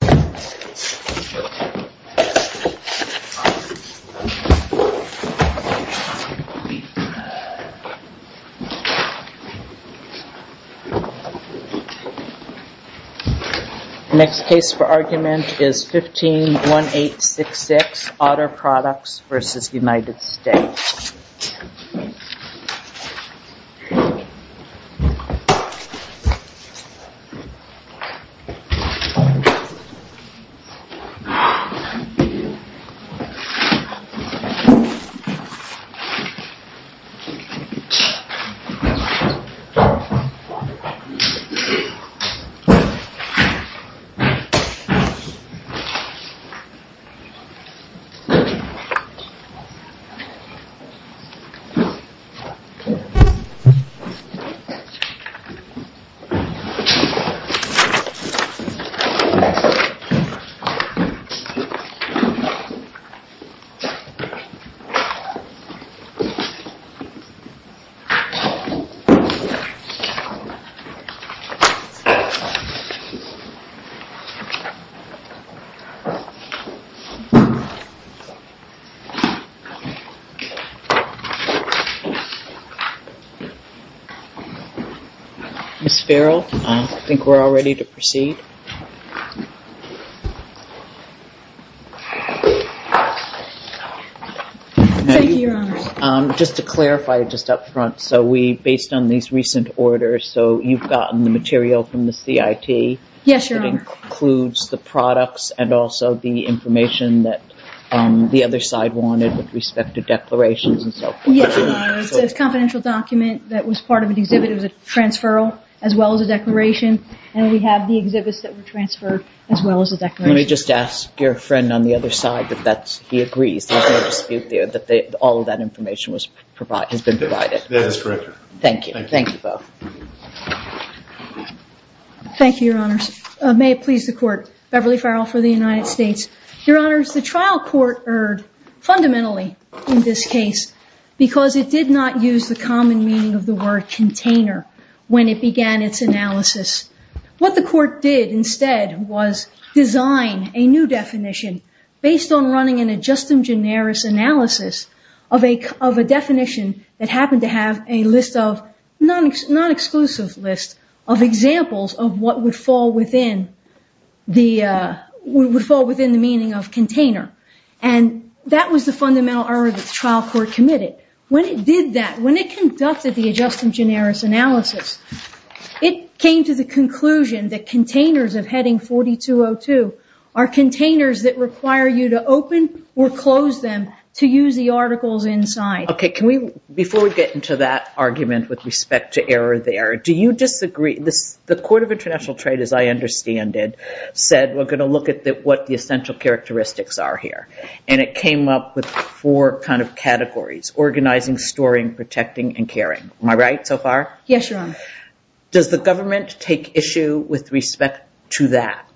The next case for argument is 151866, Otter Products v. United States. This case is 151866, Otter Products v. United States. This case is 151866, Otter Products v. United States. Ms. Farrell, I think we're all ready to proceed. Thank you, Your Honor. Just to clarify just up front, so we, based on these recent orders, so you've gotten the material from the CIT. Yes, Your Honor. That includes the products and also the information that the other side wanted with respect to declarations and so forth. Yes, Your Honor. It's a confidential document that was part of an exhibit. It was a transferral as well as a declaration. And we have the exhibits that were transferred as well as the declaration. Let me just ask your friend on the other side that he agrees. There's no dispute there that all of that information has been provided. Yes, correct, Your Honor. Thank you. Thank you both. Thank you, Your Honors. May it please the Court. Beverly Farrell for the United States. Your Honors, the trial court erred fundamentally in this case because it did not use the common meaning of the word container when it began its analysis. What the court did instead was design a new definition based on running an ad justum generis analysis of a definition that happened to have a list of, non-exclusive list of examples of what would fall within the meaning of container. And that was the fundamental error that the trial court committed. When it did that, when it conducted the ad justum generis analysis, it came to the conclusion that containers of heading 4202 are containers that require you to open or close them to use the articles inside. Okay, before we get into that argument with respect to error there, do you disagree? The Court of International Trade, as I understand it, said we're going to look at what the essential characteristics are here. And it came up with four kind of categories, organizing, storing, protecting, and caring. Am I right so far? Yes, Your Honor. Does the government take issue with respect to that?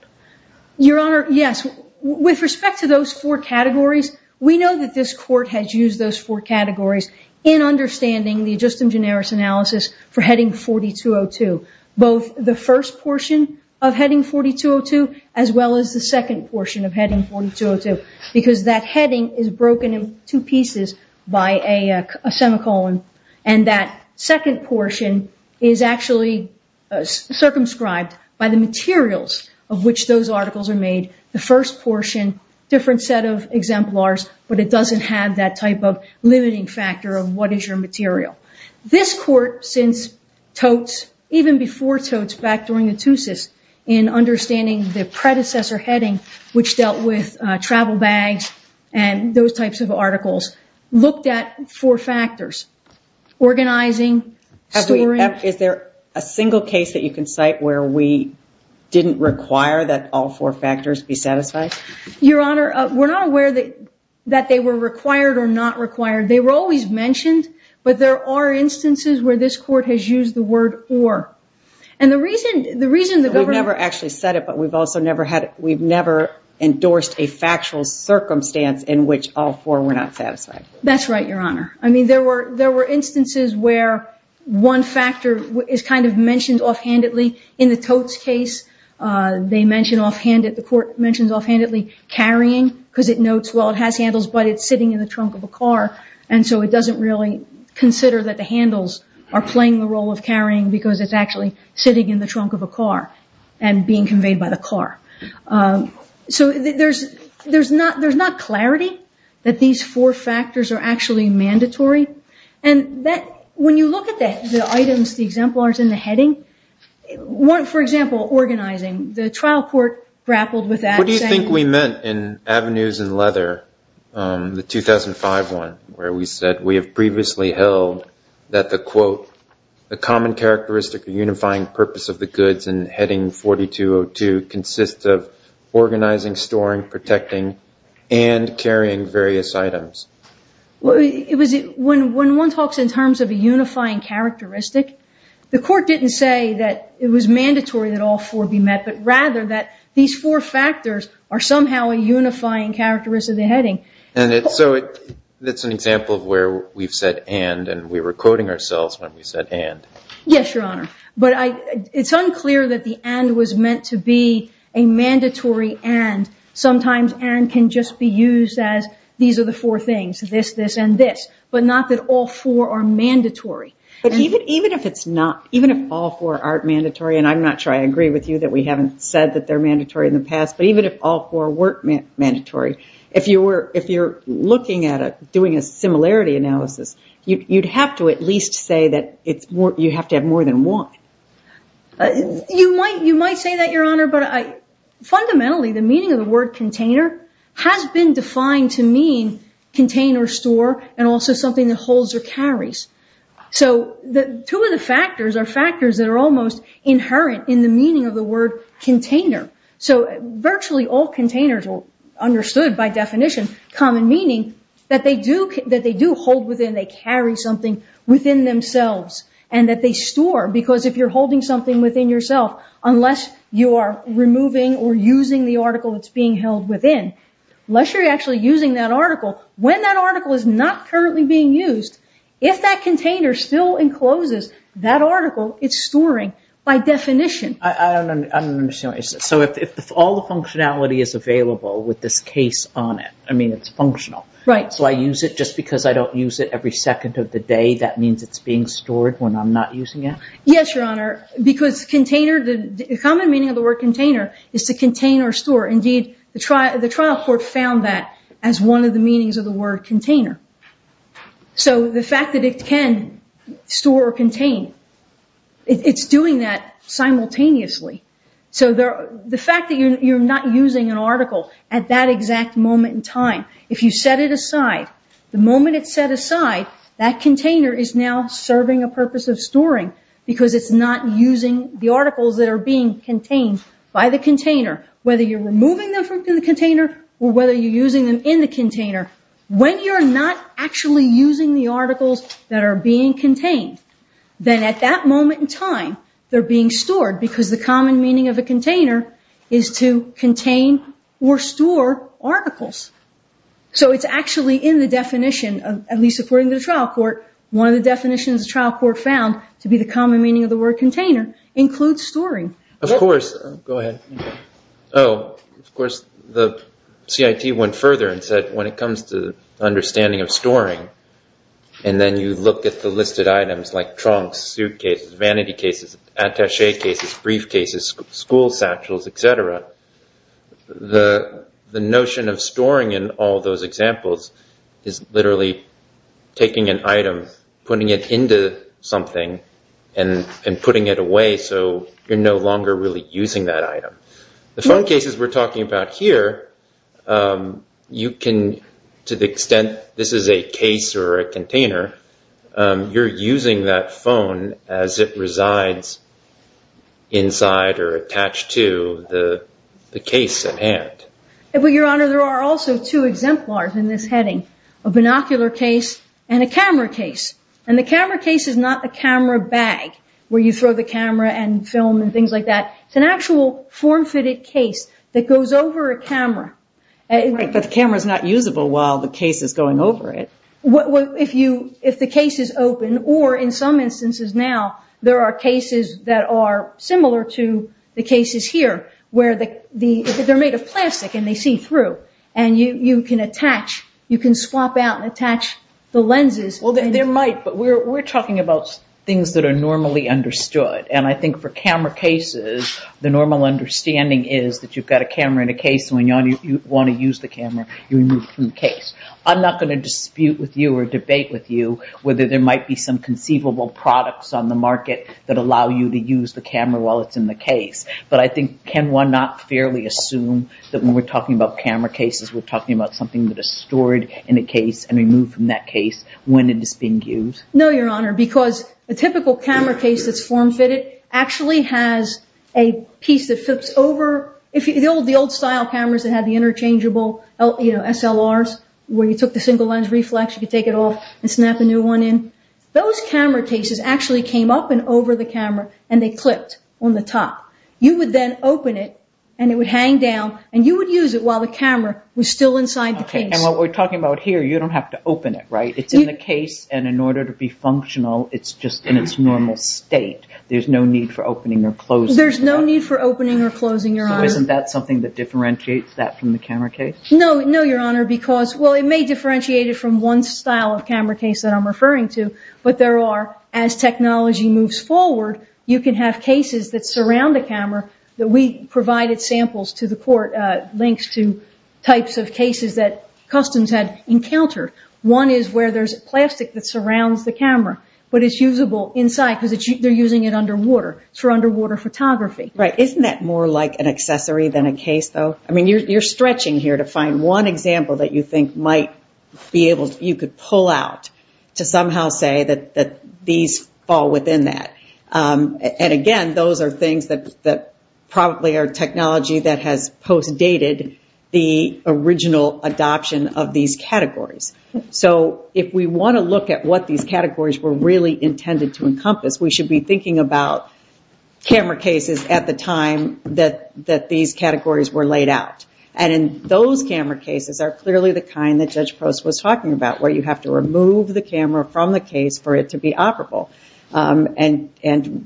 Your Honor, yes. With respect to those four categories, we know that this court has used those four categories in understanding the ad justum generis analysis for heading 4202. Both the first portion of heading 4202, as well as the second portion of heading 4202. Because that heading is broken in two pieces by a semicolon. And that second portion is actually circumscribed by the materials of which those articles are made. The first portion, different set of exemplars, but it doesn't have that type of limiting factor of what is your material. This court, since totes, even before totes, back during the two-sys, in understanding the predecessor heading, which dealt with travel bags and those types of articles, looked at four factors. Organizing, storing. Is there a single case that you can cite where we didn't require that all four factors be satisfied? Your Honor, we're not aware that they were required or not required. They were always mentioned, but there are instances where this court has used the word or. And the reason the government... We've never actually said it, but we've also never endorsed a factual circumstance in which all four were not satisfied. That's right, Your Honor. I mean, there were instances where one factor is kind of mentioned offhandedly. In the totes case, the court mentions offhandedly carrying, because it notes, well, it has handles, but it's sitting in the trunk of a car. And so it doesn't really consider that the handles are playing the role of carrying, because it's actually sitting in the trunk of a car and being conveyed by the car. So there's not clarity that these four factors are actually mandatory. When you look at the items, the exemplars in the heading, for example, organizing, the trial court grappled with that. What do you think we meant in Avenues in Leather, the 2005 one, where we said, we have previously held that the quote, the common characteristic of unifying purpose of the goods in heading 4202, consists of organizing, storing, protecting, and carrying various items. When one talks in terms of a unifying characteristic, the court didn't say that it was mandatory that all four be met, but rather that these four factors are somehow a unifying characteristic of the heading. And so that's an example of where we've said and, and we were quoting ourselves when we said and. Yes, Your Honor. But it's unclear that the and was meant to be a mandatory and. Sometimes and can just be used as these are the four things, this, this, and this. But not that all four are mandatory. But even if it's not, even if all four aren't mandatory, and I'm not sure I agree with you that we haven't said that they're mandatory in the past, but even if all four weren't mandatory, if you were, if you're looking at doing a similarity analysis, you'd have to at least say that it's more, you have to have more than one. You might, you might say that, Your Honor, but fundamentally, the meaning of the word container has been defined to mean container, store, and also something that holds or carries. So two of the factors are factors that are almost inherent in the meaning of the word container. So virtually all containers are understood by definition, common meaning, that they do, that they do hold within, that they carry something within themselves, and that they store. Because if you're holding something within yourself, unless you are removing or using the article that's being held within, unless you're actually using that article, when that article is not currently being used, if that container still encloses that article, it's storing by definition. I don't understand what you said. So if all the functionality is available with this case on it, I mean, it's functional. Right. So I use it just because I don't use it every second of the day. That means it's being stored when I'm not using it? Yes, Your Honor, because container, the common meaning of the word container is to contain or store. Indeed, the trial court found that as one of the meanings of the word container. So the fact that it can store or contain, it's doing that simultaneously. So the fact that you're not using an article at that exact moment in time, if you set it aside, the moment it's set aside, that container is now serving a purpose of storing because it's not using the articles that are being contained by the container. Whether you're removing them from the container or whether you're using them in the container, when you're not actually using the articles that are being contained, then at that moment in time, they're being stored because the common meaning of a container is to contain or store articles. So it's actually in the definition, at least according to the trial court, one of the definitions the trial court found to be the common meaning of the word container includes storing. Of course, the CIT went further and said when it comes to understanding of storing and then you look at the listed items like trunks, suitcases, vanity cases, attache cases, briefcases, school satchels, etc., the notion of storing in all those examples is literally taking an item, putting it into something and putting it away so you're no longer really using that item. The phone cases we're talking about here, to the extent this is a case or a container, you're using that phone as it resides inside or attached to the case at hand. Your Honor, there are also two exemplars in this heading, a binocular case and a camera case. The camera case is not a camera bag where you throw the camera and film and things like that. It's an actual form-fitted case that goes over a camera. Right, but the camera's not usable while the case is going over it. If the case is open or in some instances now, there are cases that are similar to the cases here where they're made of plastic and they see through and you can attach, you can swap out and attach the lenses. Well, there might, but we're talking about things that are normally understood. I think for camera cases, the normal understanding is that you've got a camera in a case and when you want to use the camera, you remove from the case. I'm not going to dispute with you or debate with you whether there might be some conceivable products on the market that allow you to use the camera while it's in the case. But I think, can one not fairly assume that when we're talking about camera cases, we're talking about something that is stored in a case and removed from that case when it is being used? No, Your Honor, because a typical camera case that's form-fitted actually has a piece that flips over. The old style cameras that had the interchangeable SLRs where you took the single lens reflex, you could take it off and snap a new one in. Those camera cases actually came up and over the camera and they clipped on the top. You would then open it and it would hang down and you would use it while the camera was still inside the case. Okay, and what we're talking about here, you don't have to open it, right? It's in the case and in order to be functional, it's just in its normal state. There's no need for opening or closing. There's no need for opening or closing, Your Honor. Isn't that something that differentiates that from the camera case? No, Your Honor, because it may differentiate it from one style of camera case that I'm referring to, but there are, as technology moves forward, you can have cases that surround the camera. We provided samples to the court, links to types of cases that Customs had encountered. One is where there's plastic that surrounds the camera, but it's usable inside because they're using it underwater. It's for underwater photography. Isn't that more like an accessory than a case, though? You're stretching here to find one example that you think you could pull out to somehow say that these fall within that. Again, those are things that probably are technology that has post-dated the original adoption of these categories. If we want to look at what these categories were really intended to encompass, we should be thinking about camera cases at the time that these categories were laid out. Those camera cases are clearly the kind that Judge Post was talking about, where you have to remove the camera from the case for it to be operable.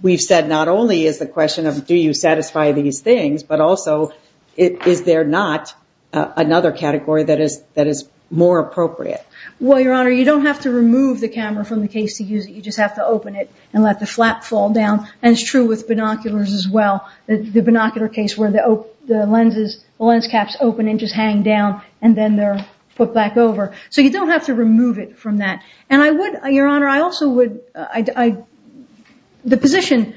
We've said not only is the question of do you satisfy these things, but also is there not another category that is more appropriate? Your Honor, you don't have to remove the camera from the case to use it. You just have to open it and let the flap fall down. It's true with binoculars as well. The binocular case where the lens caps open and just hang down, and then they're put back over. You don't have to remove it from that. Your Honor, the position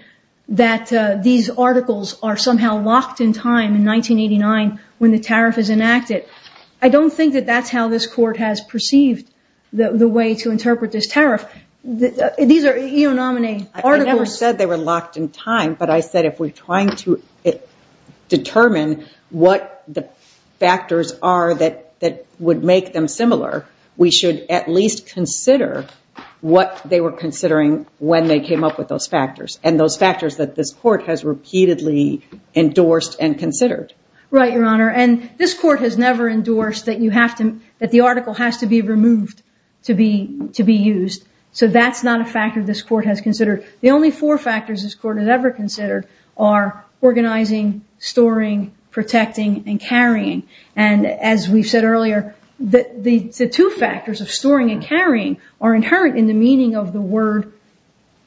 that these articles are somehow locked in time in 1989 when the tariff is enacted, I don't think that that's how this court has perceived the way to interpret this tariff. I never said they were locked in time, but I said if we're trying to determine what the factors are that would make them similar, we should at least consider what they were considering when they came up with those factors, and those factors that this court has repeatedly endorsed and considered. Right, Your Honor. And this court has never endorsed that the article has to be removed to be used. So that's not a factor this court has considered. The only four factors this court has ever considered are organizing, storing, protecting, and carrying. And as we said earlier, the two factors of storing and carrying are inherent in the meaning of the word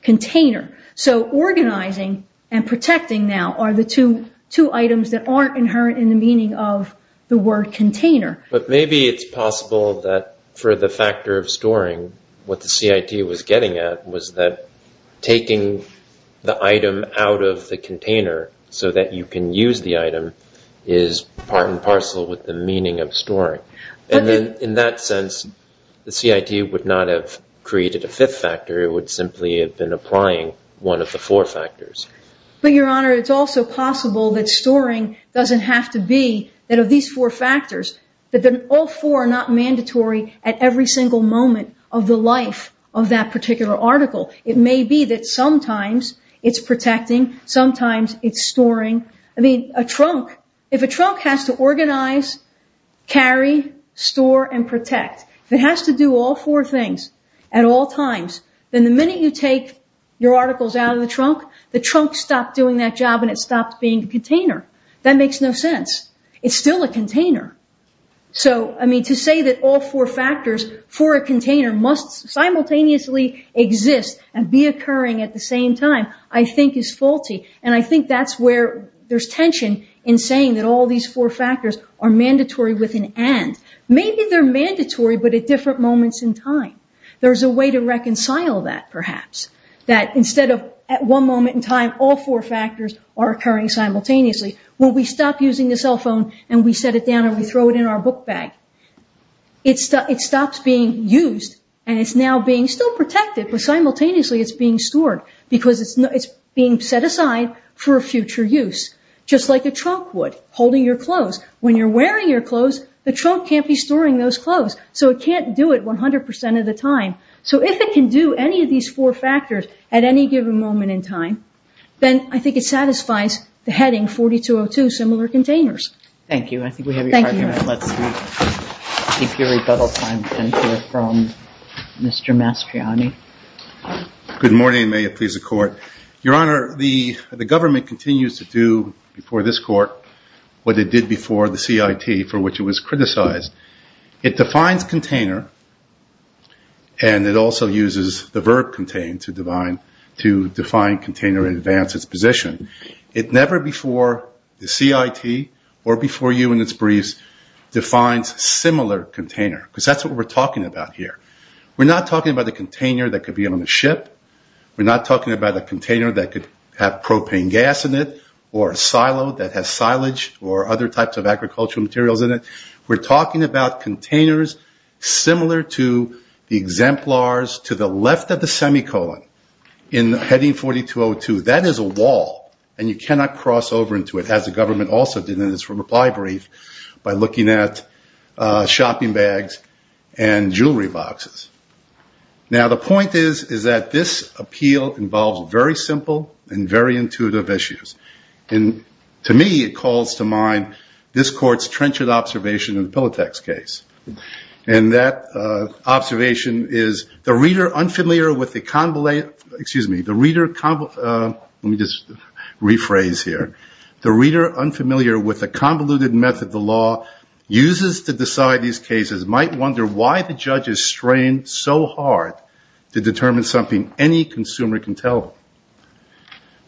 container. So organizing and protecting now are the two items that aren't inherent in the meaning of the word container. But maybe it's possible that for the factor of storing, what the CIT was getting at was that taking the item out of the container so that you can use the item is part and parcel with the meaning of storing. And then in that sense, the CIT would not have created a fifth factor. It would simply have been applying one of the four factors. But, Your Honor, it's also possible that storing doesn't have to be that of these four factors, that all four are not mandatory at every single moment of the life of that particular article. It may be that sometimes it's protecting, sometimes it's storing. I mean, if a trunk has to organize, carry, store, and protect, if it has to do all four things at all times, then the minute you take your articles out of the trunk, the trunk stopped doing that job and it stopped being a container. That makes no sense. It's still a container. So, I mean, to say that all four factors for a container must simultaneously exist and be occurring at the same time, I think is faulty. And I think that's where there's tension in saying that all these four factors are mandatory with an and. Maybe they're mandatory, but at different moments in time. There's a way to reconcile that, perhaps. That instead of at one moment in time, all four factors are occurring simultaneously, when we stop using the cell phone and we set it down and we throw it in our book bag, it stops being used and it's now being still protected, but simultaneously it's being stored because it's being set aside for future use. Just like a trunk would, holding your clothes. When you're wearing your clothes, the trunk can't be storing those clothes, so it can't do it 100% of the time. So if it can do any of these four factors at any given moment in time, then I think it satisfies the heading 4202, similar containers. Thank you. I think we have your time here. Let's take your rebuttal time and hear from Mr. Mastriani. Good morning, and may it please the Court. Your Honor, the government continues to do before this Court what it did before the CIT, for which it was criticized. It defines container, and it also uses the verb contain to define, contain or advance its position. It never before the CIT or before you in its briefs defines similar container, because that's what we're talking about here. We're not talking about a container that could be on a ship. We're not talking about a container that could have propane gas in it or a silo that has silage or other types of agricultural materials in it. We're talking about containers similar to the exemplars to the left of the semicolon in heading 4202. That is a wall, and you cannot cross over into it, as the government also did in its reply brief, by looking at shopping bags and jewelry boxes. Now, the point is that this appeal involves very simple and very intuitive issues. And to me, it calls to mind this Court's trenchant observation in the Pilatex case. And that observation is, the reader unfamiliar with the convoluted method the law uses to decide these cases might wonder why the judge is strained so hard to determine something any consumer can tell him.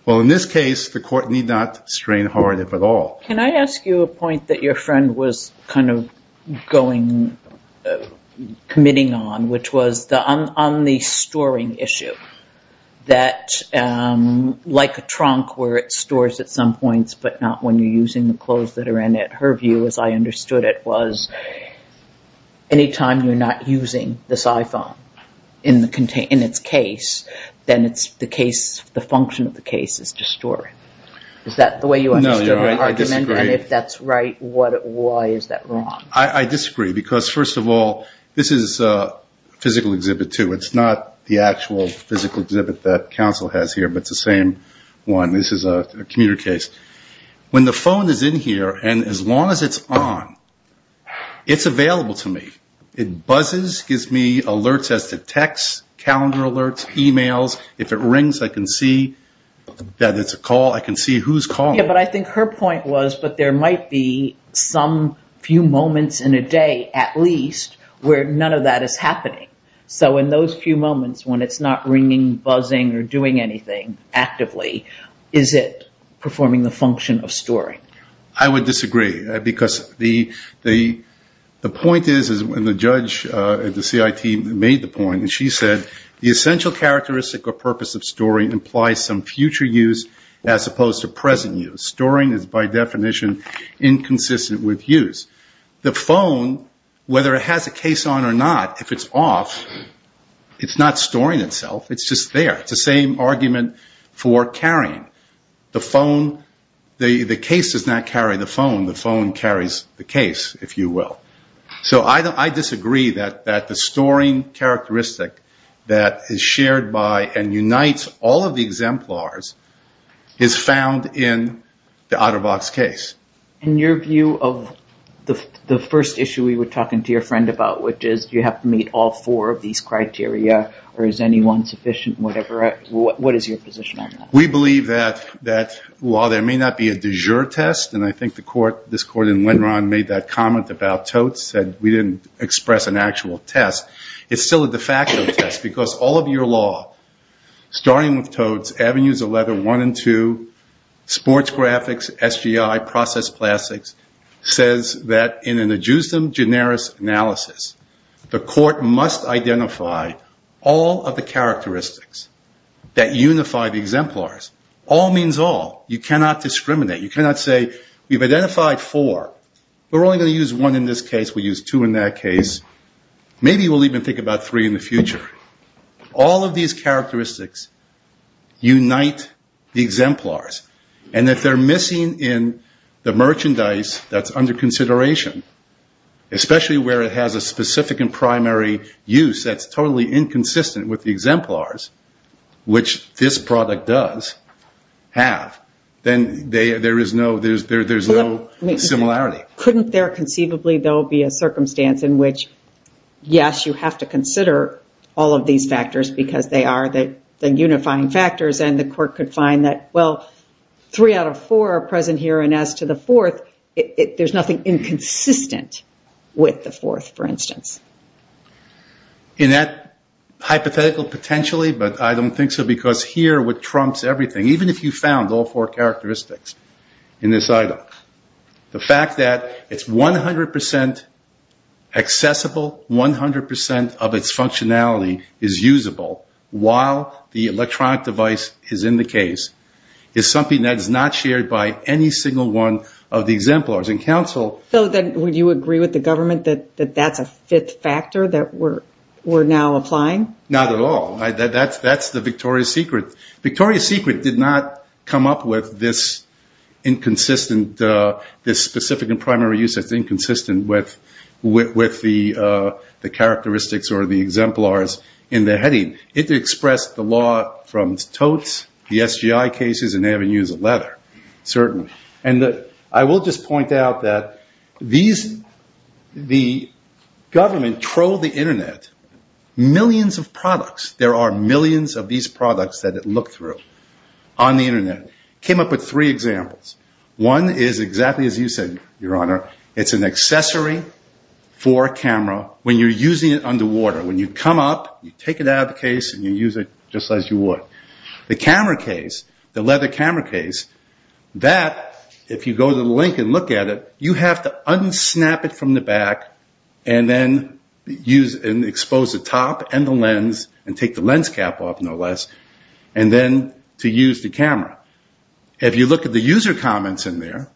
Well, in this case, the Court need not strain hard if at all. Can I ask you a point that your friend was kind of committing on, which was on the storing issue. That, like a trunk where it stores at some points, but not when you're using the clothes that are in it, her view, as I understood it, was anytime you're not using this iPhone in its case, then the function of the case is to store it. Is that the way you understood it? No, you're right. I disagree. And if that's right, why is that wrong? I disagree. Because, first of all, this is a physical exhibit, too. It's not the actual physical exhibit that counsel has here, but it's the same one. This is a commuter case. When the phone is in here, and as long as it's on, it's available to me. It buzzes, gives me alerts as to text, calendar alerts, e-mails. If it rings, I can see that it's a call. I can see who's calling. Yeah, but I think her point was, but there might be some few moments in a day, at least, where none of that is happening. So in those few moments, when it's not ringing, buzzing, or doing anything actively, is it performing the function of storing? I would disagree. Because the point is, and the judge at the CIT made the point, and she said, the essential characteristic or purpose of storing implies some future use as opposed to present use. Storing is, by definition, inconsistent with use. The phone, whether it has a case on or not, if it's off, it's not storing itself. It's just there. It's the same argument for carrying. The phone, the case does not carry the phone. The phone carries the case, if you will. So I disagree that the storing characteristic that is shared by and unites all of the exemplars is found in the Otterbox case. In your view of the first issue we were talking to your friend about, which is you have to meet all four of these criteria, or is any one sufficient, whatever, what is your position on that? We believe that while there may not be a de jure test, and I think this court in Winron made that comment about totes, said we didn't express an actual test. It's still a de facto test because all of your law, starting with totes, avenues of letter one and two, sports graphics, SGI, process plastics, says that in a generis analysis, the court must identify all of the characteristics that unify the exemplars. All means all. You cannot discriminate. You cannot say we've identified four. We're only going to use one in this case. We'll use two in that case. Maybe we'll even think about three in the future. All of these characteristics unite the exemplars, and if they're missing in the merchandise that's under consideration, especially where it has a specific and primary use that's totally inconsistent with the exemplars, which this product does have, then there is no similarity. Couldn't there conceivably, though, be a circumstance in which, yes, you have to consider all of these factors because they are the unifying factors and the court could find that, well, three out of four are present here, and as to the fourth, there's nothing inconsistent with the fourth, for instance. In that hypothetical potentially, but I don't think so, because here what trumps everything, even if you found all four characteristics in this item, the fact that it's 100% accessible, 100% of its functionality is usable while the electronic device is in the case is something that is not shared by any single one of the exemplars, and counsel. So then would you agree with the government that that's a fifth factor that we're now applying? Not at all. That's the Victoria's Secret. Victoria's Secret did not come up with this inconsistent, this specific and primary use that's inconsistent with the characteristics or the exemplars in the heading. It expressed the law from totes, the SGI cases, and they haven't used a letter, certainly. And I will just point out that the government trolled the Internet. Millions of products, there are millions of these products that it looked through on the Internet. It came up with three examples. One is exactly as you said, Your Honor. It's an accessory for a camera when you're using it underwater. When you come up, you take it out of the case, and you use it just as you would. The camera case, the leather camera case, that if you go to the link and look at it, and take the lens cap off, no less, and then to use the camera. If you look at the user comments in there,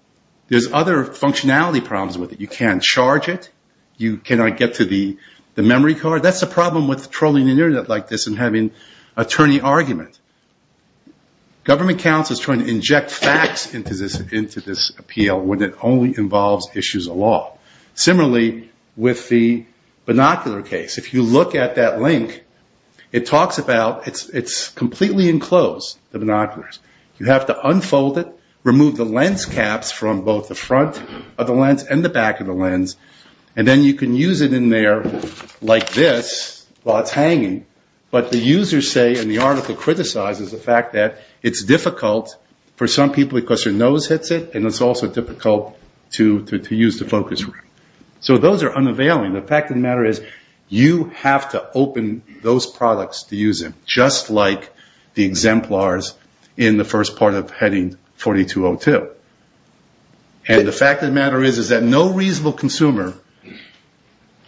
there's other functionality problems with it. You can't charge it. You cannot get to the memory card. That's the problem with trolling the Internet like this and having attorney argument. Government counsel is trying to inject facts into this appeal when it only involves issues of law. Similarly with the binocular case. If you look at that link, it talks about, it's completely enclosed, the binoculars. You have to unfold it, remove the lens caps from both the front of the lens and the back of the lens, and then you can use it in there like this while it's hanging. But the users say, and the article criticizes the fact that it's difficult for some people because their nose hits it, and it's also difficult to use the focus ring. Those are unavailing. The fact of the matter is you have to open those products to use them, just like the exemplars in the first part of heading 4202. And the fact of the matter is that no reasonable consumer,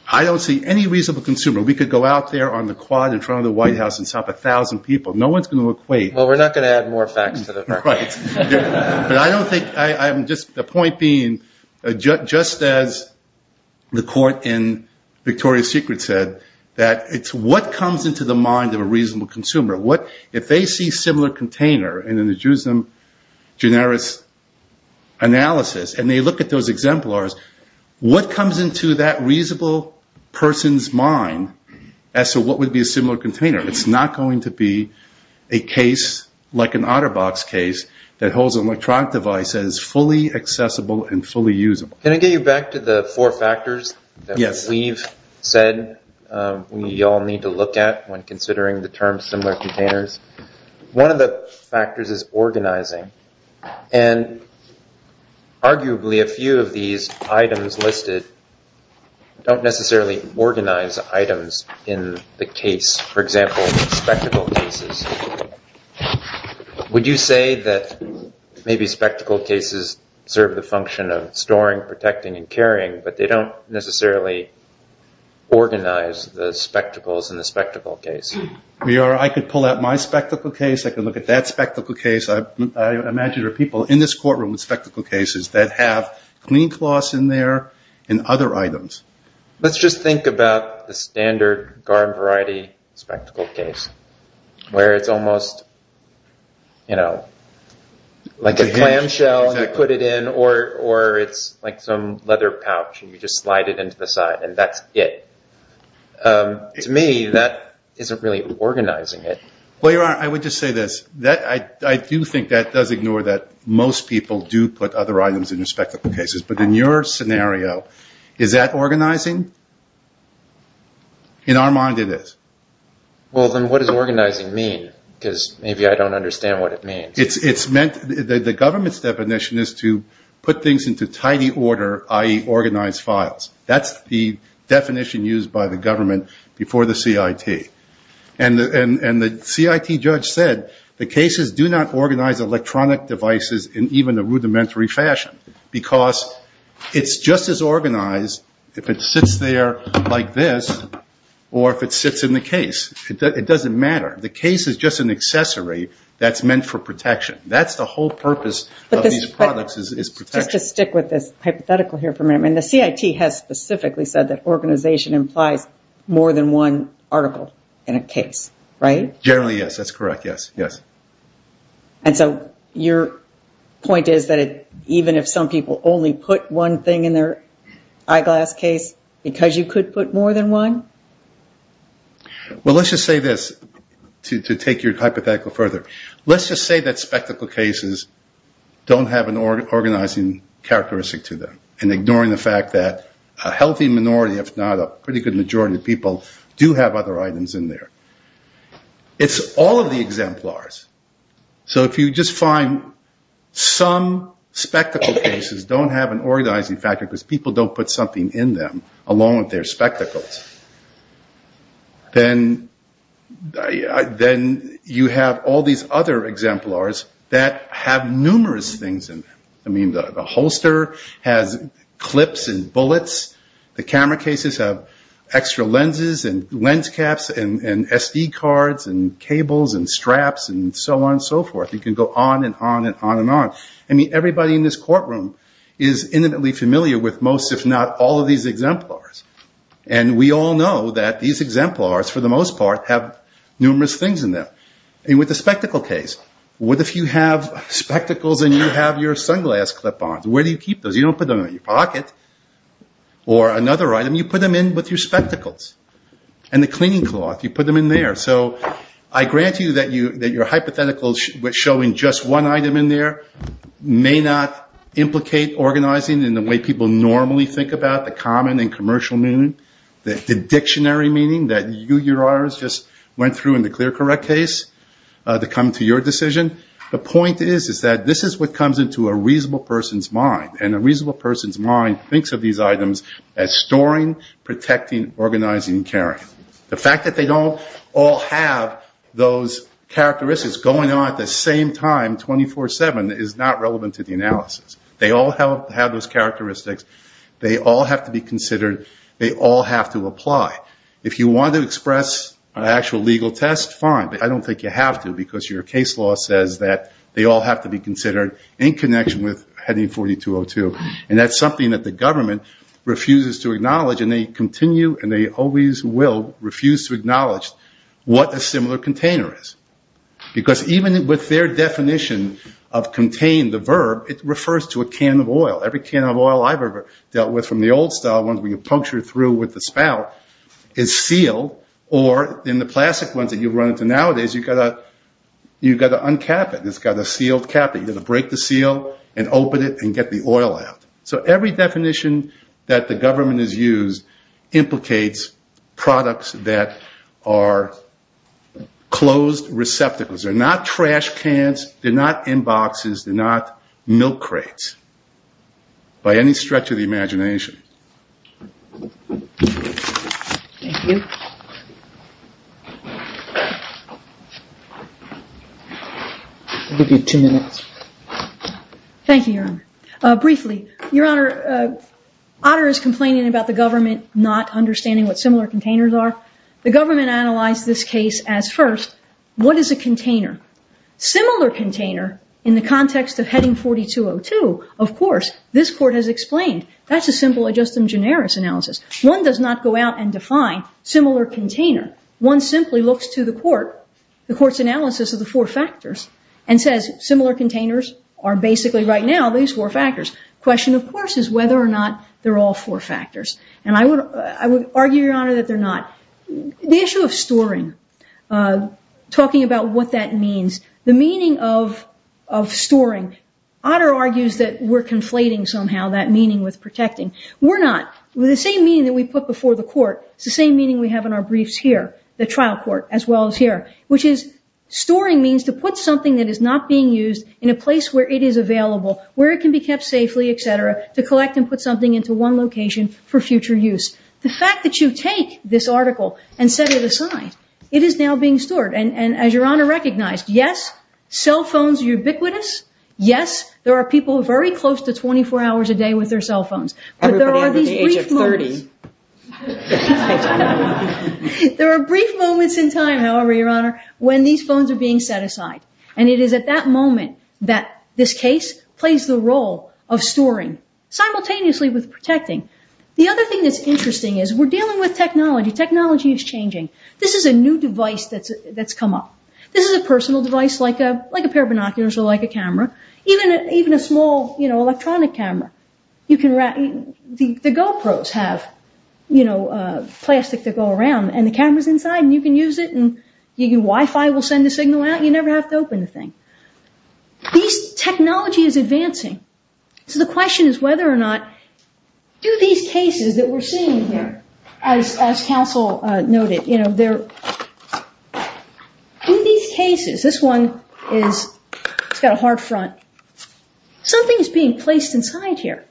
I don't see any reasonable consumer, we could go out there on the quad in front of the White House and stop 1,000 people. No one's going to equate. Well, we're not going to add more facts to the record. But I don't think, just the point being, just as the court in Victoria's Secret said, that it's what comes into the mind of a reasonable consumer. If they see a similar container in a generis analysis and they look at those exemplars, what comes into that reasonable person's mind as to what would be a similar container? It's not going to be a case like an OtterBox case that holds an electronic device that is fully accessible and fully usable. Can I get you back to the four factors that we've said we all need to look at when considering the term similar containers? One of the factors is organizing. And arguably a few of these items listed don't necessarily organize items in the case. For example, spectacle cases. Would you say that maybe spectacle cases serve the function of storing, protecting, and carrying, but they don't necessarily organize the spectacles in the spectacle case? I could pull out my spectacle case. I could look at that spectacle case. I imagine there are people in this courtroom with spectacle cases that have clean cloths in there and other items. Let's just think about the standard garden variety spectacle case where it's almost like a clamshell and you put it in or it's like some leather pouch and you just slide it into the side and that's it. To me, that isn't really organizing it. I would just say this. I do think that does ignore that most people do put other items in their spectacle cases, but in your scenario, is that organizing? In our mind it is. Well, then what does organizing mean? Because maybe I don't understand what it means. The government's definition is to put things into tidy order, i.e., organized files. That's the definition used by the government before the CIT. The CIT judge said the cases do not organize electronic devices in even a rudimentary fashion because it's just as organized if it sits there like this or if it sits in the case. It doesn't matter. The case is just an accessory that's meant for protection. That's the whole purpose of these products is protection. Just to stick with this hypothetical here for a minute, the CIT has specifically said that organization implies more than one article in a case, right? Generally, yes, that's correct, yes. And so your point is that even if some people only put one thing in their eyeglass case, because you could put more than one? Well, let's just say this to take your hypothetical further. Let's just say that spectacle cases don't have an organizing characteristic to them and ignoring the fact that a healthy minority, if not a pretty good majority of people, do have other items in there. It's all of the exemplars. So if you just find some spectacle cases don't have an organizing factor because people don't put something in them along with their spectacles, then you have all these other exemplars that have numerous things in them. I mean, the holster has clips and bullets. The camera cases have extra lenses and lens caps and SD cards and cables and straps and so on and so forth. You can go on and on and on and on. I mean, everybody in this courtroom is intimately familiar with most, if not all of these exemplars. And we all know that these exemplars, for the most part, have numerous things in them. And with the spectacle case, what if you have spectacles and you have your sunglass clip-ons? Where do you keep those? You don't put them in your pocket or another item. You put them in with your spectacles. And the cleaning cloth, you put them in there. So I grant you that your hypotheticals showing just one item in there may not implicate organizing in the way people normally think about, the common and commercial meaning, the dictionary meaning that you, Your Honor, just went through in the clear correct case to come to your decision. The point is that this is what comes into a reasonable person's mind. And a reasonable person's mind thinks of these items as storing, protecting, organizing, and carrying. The fact that they don't all have those characteristics going on at the same time 24-7 is not relevant to the analysis. They all have those characteristics. They all have to be considered. They all have to apply. If you want to express an actual legal test, fine, but I don't think you have to because your case law says that they all have to be considered in connection with Heading 4202. And that's something that the government refuses to acknowledge. And they continue and they always will refuse to acknowledge what a similar container is. Because even with their definition of contain, the verb, it refers to a can of oil. Every can of oil I've ever dealt with from the old style, ones where you puncture through with the spout, is sealed. Or in the plastic ones that you run into nowadays, you've got to uncap it. It's got a sealed cap. You've got to break the seal and open it and get the oil out. So every definition that the government has used implicates products that are closed receptacles. They're not trash cans. They're not inboxes. They're not milk crates by any stretch of the imagination. Thank you. I'll give you two minutes. Thank you, Your Honor. Briefly, Your Honor, Otter is complaining about the government not understanding what similar containers are. The government analyzed this case as first, what is a container? Similar container in the context of Heading 4202, of course, this court has explained. That's a simple ad justum generis analysis. One does not go out and define similar container. One simply looks to the court, the court's analysis of the four factors, and says similar containers are basically right now these four factors. The question, of course, is whether or not they're all four factors. And I would argue, Your Honor, that they're not. The issue of storing, talking about what that means, the meaning of storing, Otter argues that we're conflating somehow that meaning with protecting. We're not. With the same meaning that we put before the court, it's the same meaning we have in our briefs here, the trial court as well as here, which is storing means to put something that is not being used in a place where it is available, where it can be kept safely, et cetera, to collect and put something into one location for future use. The fact that you take this article and set it aside, it is now being stored. And as Your Honor recognized, yes, cell phones are ubiquitous. Yes, there are people who are very close to 24 hours a day with their cell phones. Everybody under the age of 30. There are brief moments in time, however, Your Honor, when these phones are being set aside. And it is at that moment that this case plays the role of storing simultaneously with protecting. The other thing that's interesting is we're dealing with technology. Technology is changing. This is a new device that's come up. This is a personal device like a pair of binoculars or like a camera, even a small electronic camera. The GoPros have plastic that go around and the camera's inside and you can use it and your Wi-Fi will send a signal out and you never have to open the thing. This technology is advancing. So the question is whether or not do these cases that we're seeing here, as counsel noted, in these cases, this one has got a hard front, something is being placed inside here.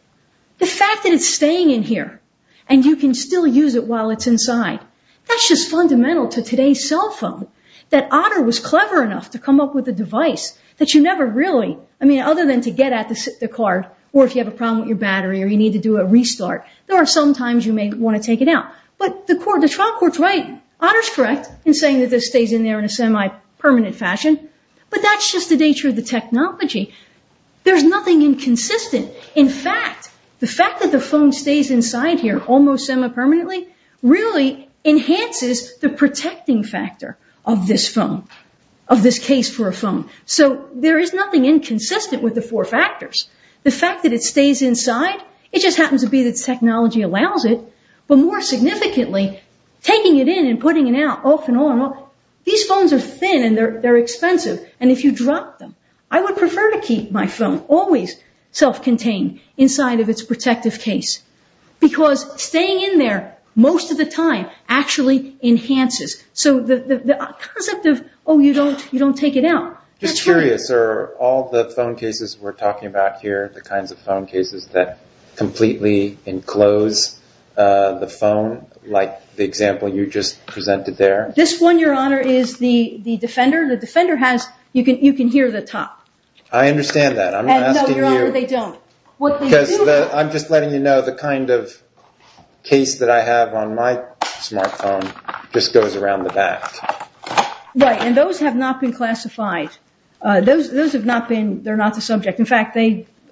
The fact that it's staying in here and you can still use it while it's inside, that's just fundamental to today's cell phone. That Otter was clever enough to come up with a device that you never really, I mean, other than to get at the card or if you have a problem with your battery or you need to do a restart, there are some times you may want to take it out. But the trial court's right. Otter's correct in saying that this stays in there in a semi-permanent fashion, but that's just the nature of the technology. There's nothing inconsistent. In fact, the fact that the phone stays inside here almost semi-permanently really enhances the protecting factor of this phone, of this case for a phone. So there is nothing inconsistent with the four factors. The fact that it stays inside, it just happens to be that technology allows it, but more significantly, taking it in and putting it out, off and on, these phones are thin and they're expensive, and if you drop them, I would prefer to keep my phone always self-contained inside of its protective case because staying in there most of the time actually enhances. So the concept of, oh, you don't take it out, that's right. Just curious, are all the phone cases we're talking about here, the kinds of phone cases that completely enclose the phone, like the example you just presented there? This one, Your Honor, is the Defender. The Defender has, you can hear the top. I understand that. No, Your Honor, they don't. Because I'm just letting you know the kind of case that I have on my smartphone just goes around the back. Right, and those have not been classified. Those have not been, they're not the subject. In fact,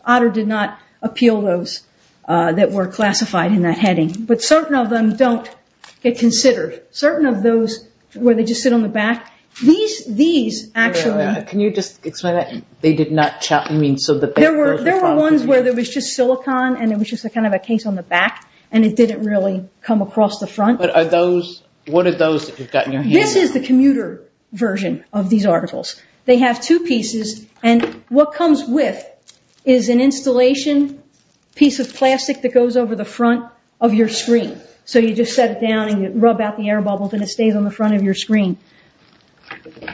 Otter did not appeal those that were classified in that heading. But certain of them don't get considered. Certain of those where they just sit on the back, these actually. Your Honor, can you just explain that? They did not, I mean, so that they're the problem. There were ones where there was just silicon and it was just kind of a case on the back, and it didn't really come across the front. But are those, what are those that you've got in your hand? This is the commuter version of these articles. They have two pieces, and what comes with is an installation piece of plastic that goes over the front of your screen. So you just set it down and you rub out the air bubbles and it stays on the front of your screen.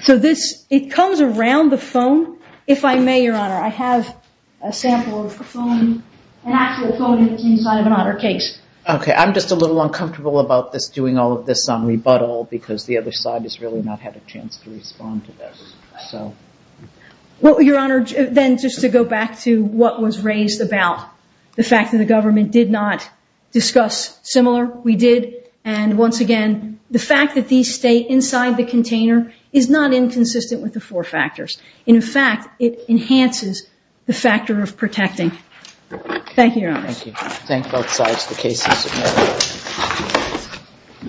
So this, it comes around the phone. If I may, Your Honor, I have a sample of a phone, an actual phone that's inside of an Otter case. Okay, I'm just a little uncomfortable about this, doing all of this on rebuttal, because the other side has really not had a chance to respond to this. Well, Your Honor, then just to go back to what was raised about the fact that the government did not discuss similar, we did. And once again, the fact that these stay inside the container is not inconsistent with the four factors. In fact, it enhances the factor of protecting. Thank you, Your Honor. Thank you. Thank both sides for the cases.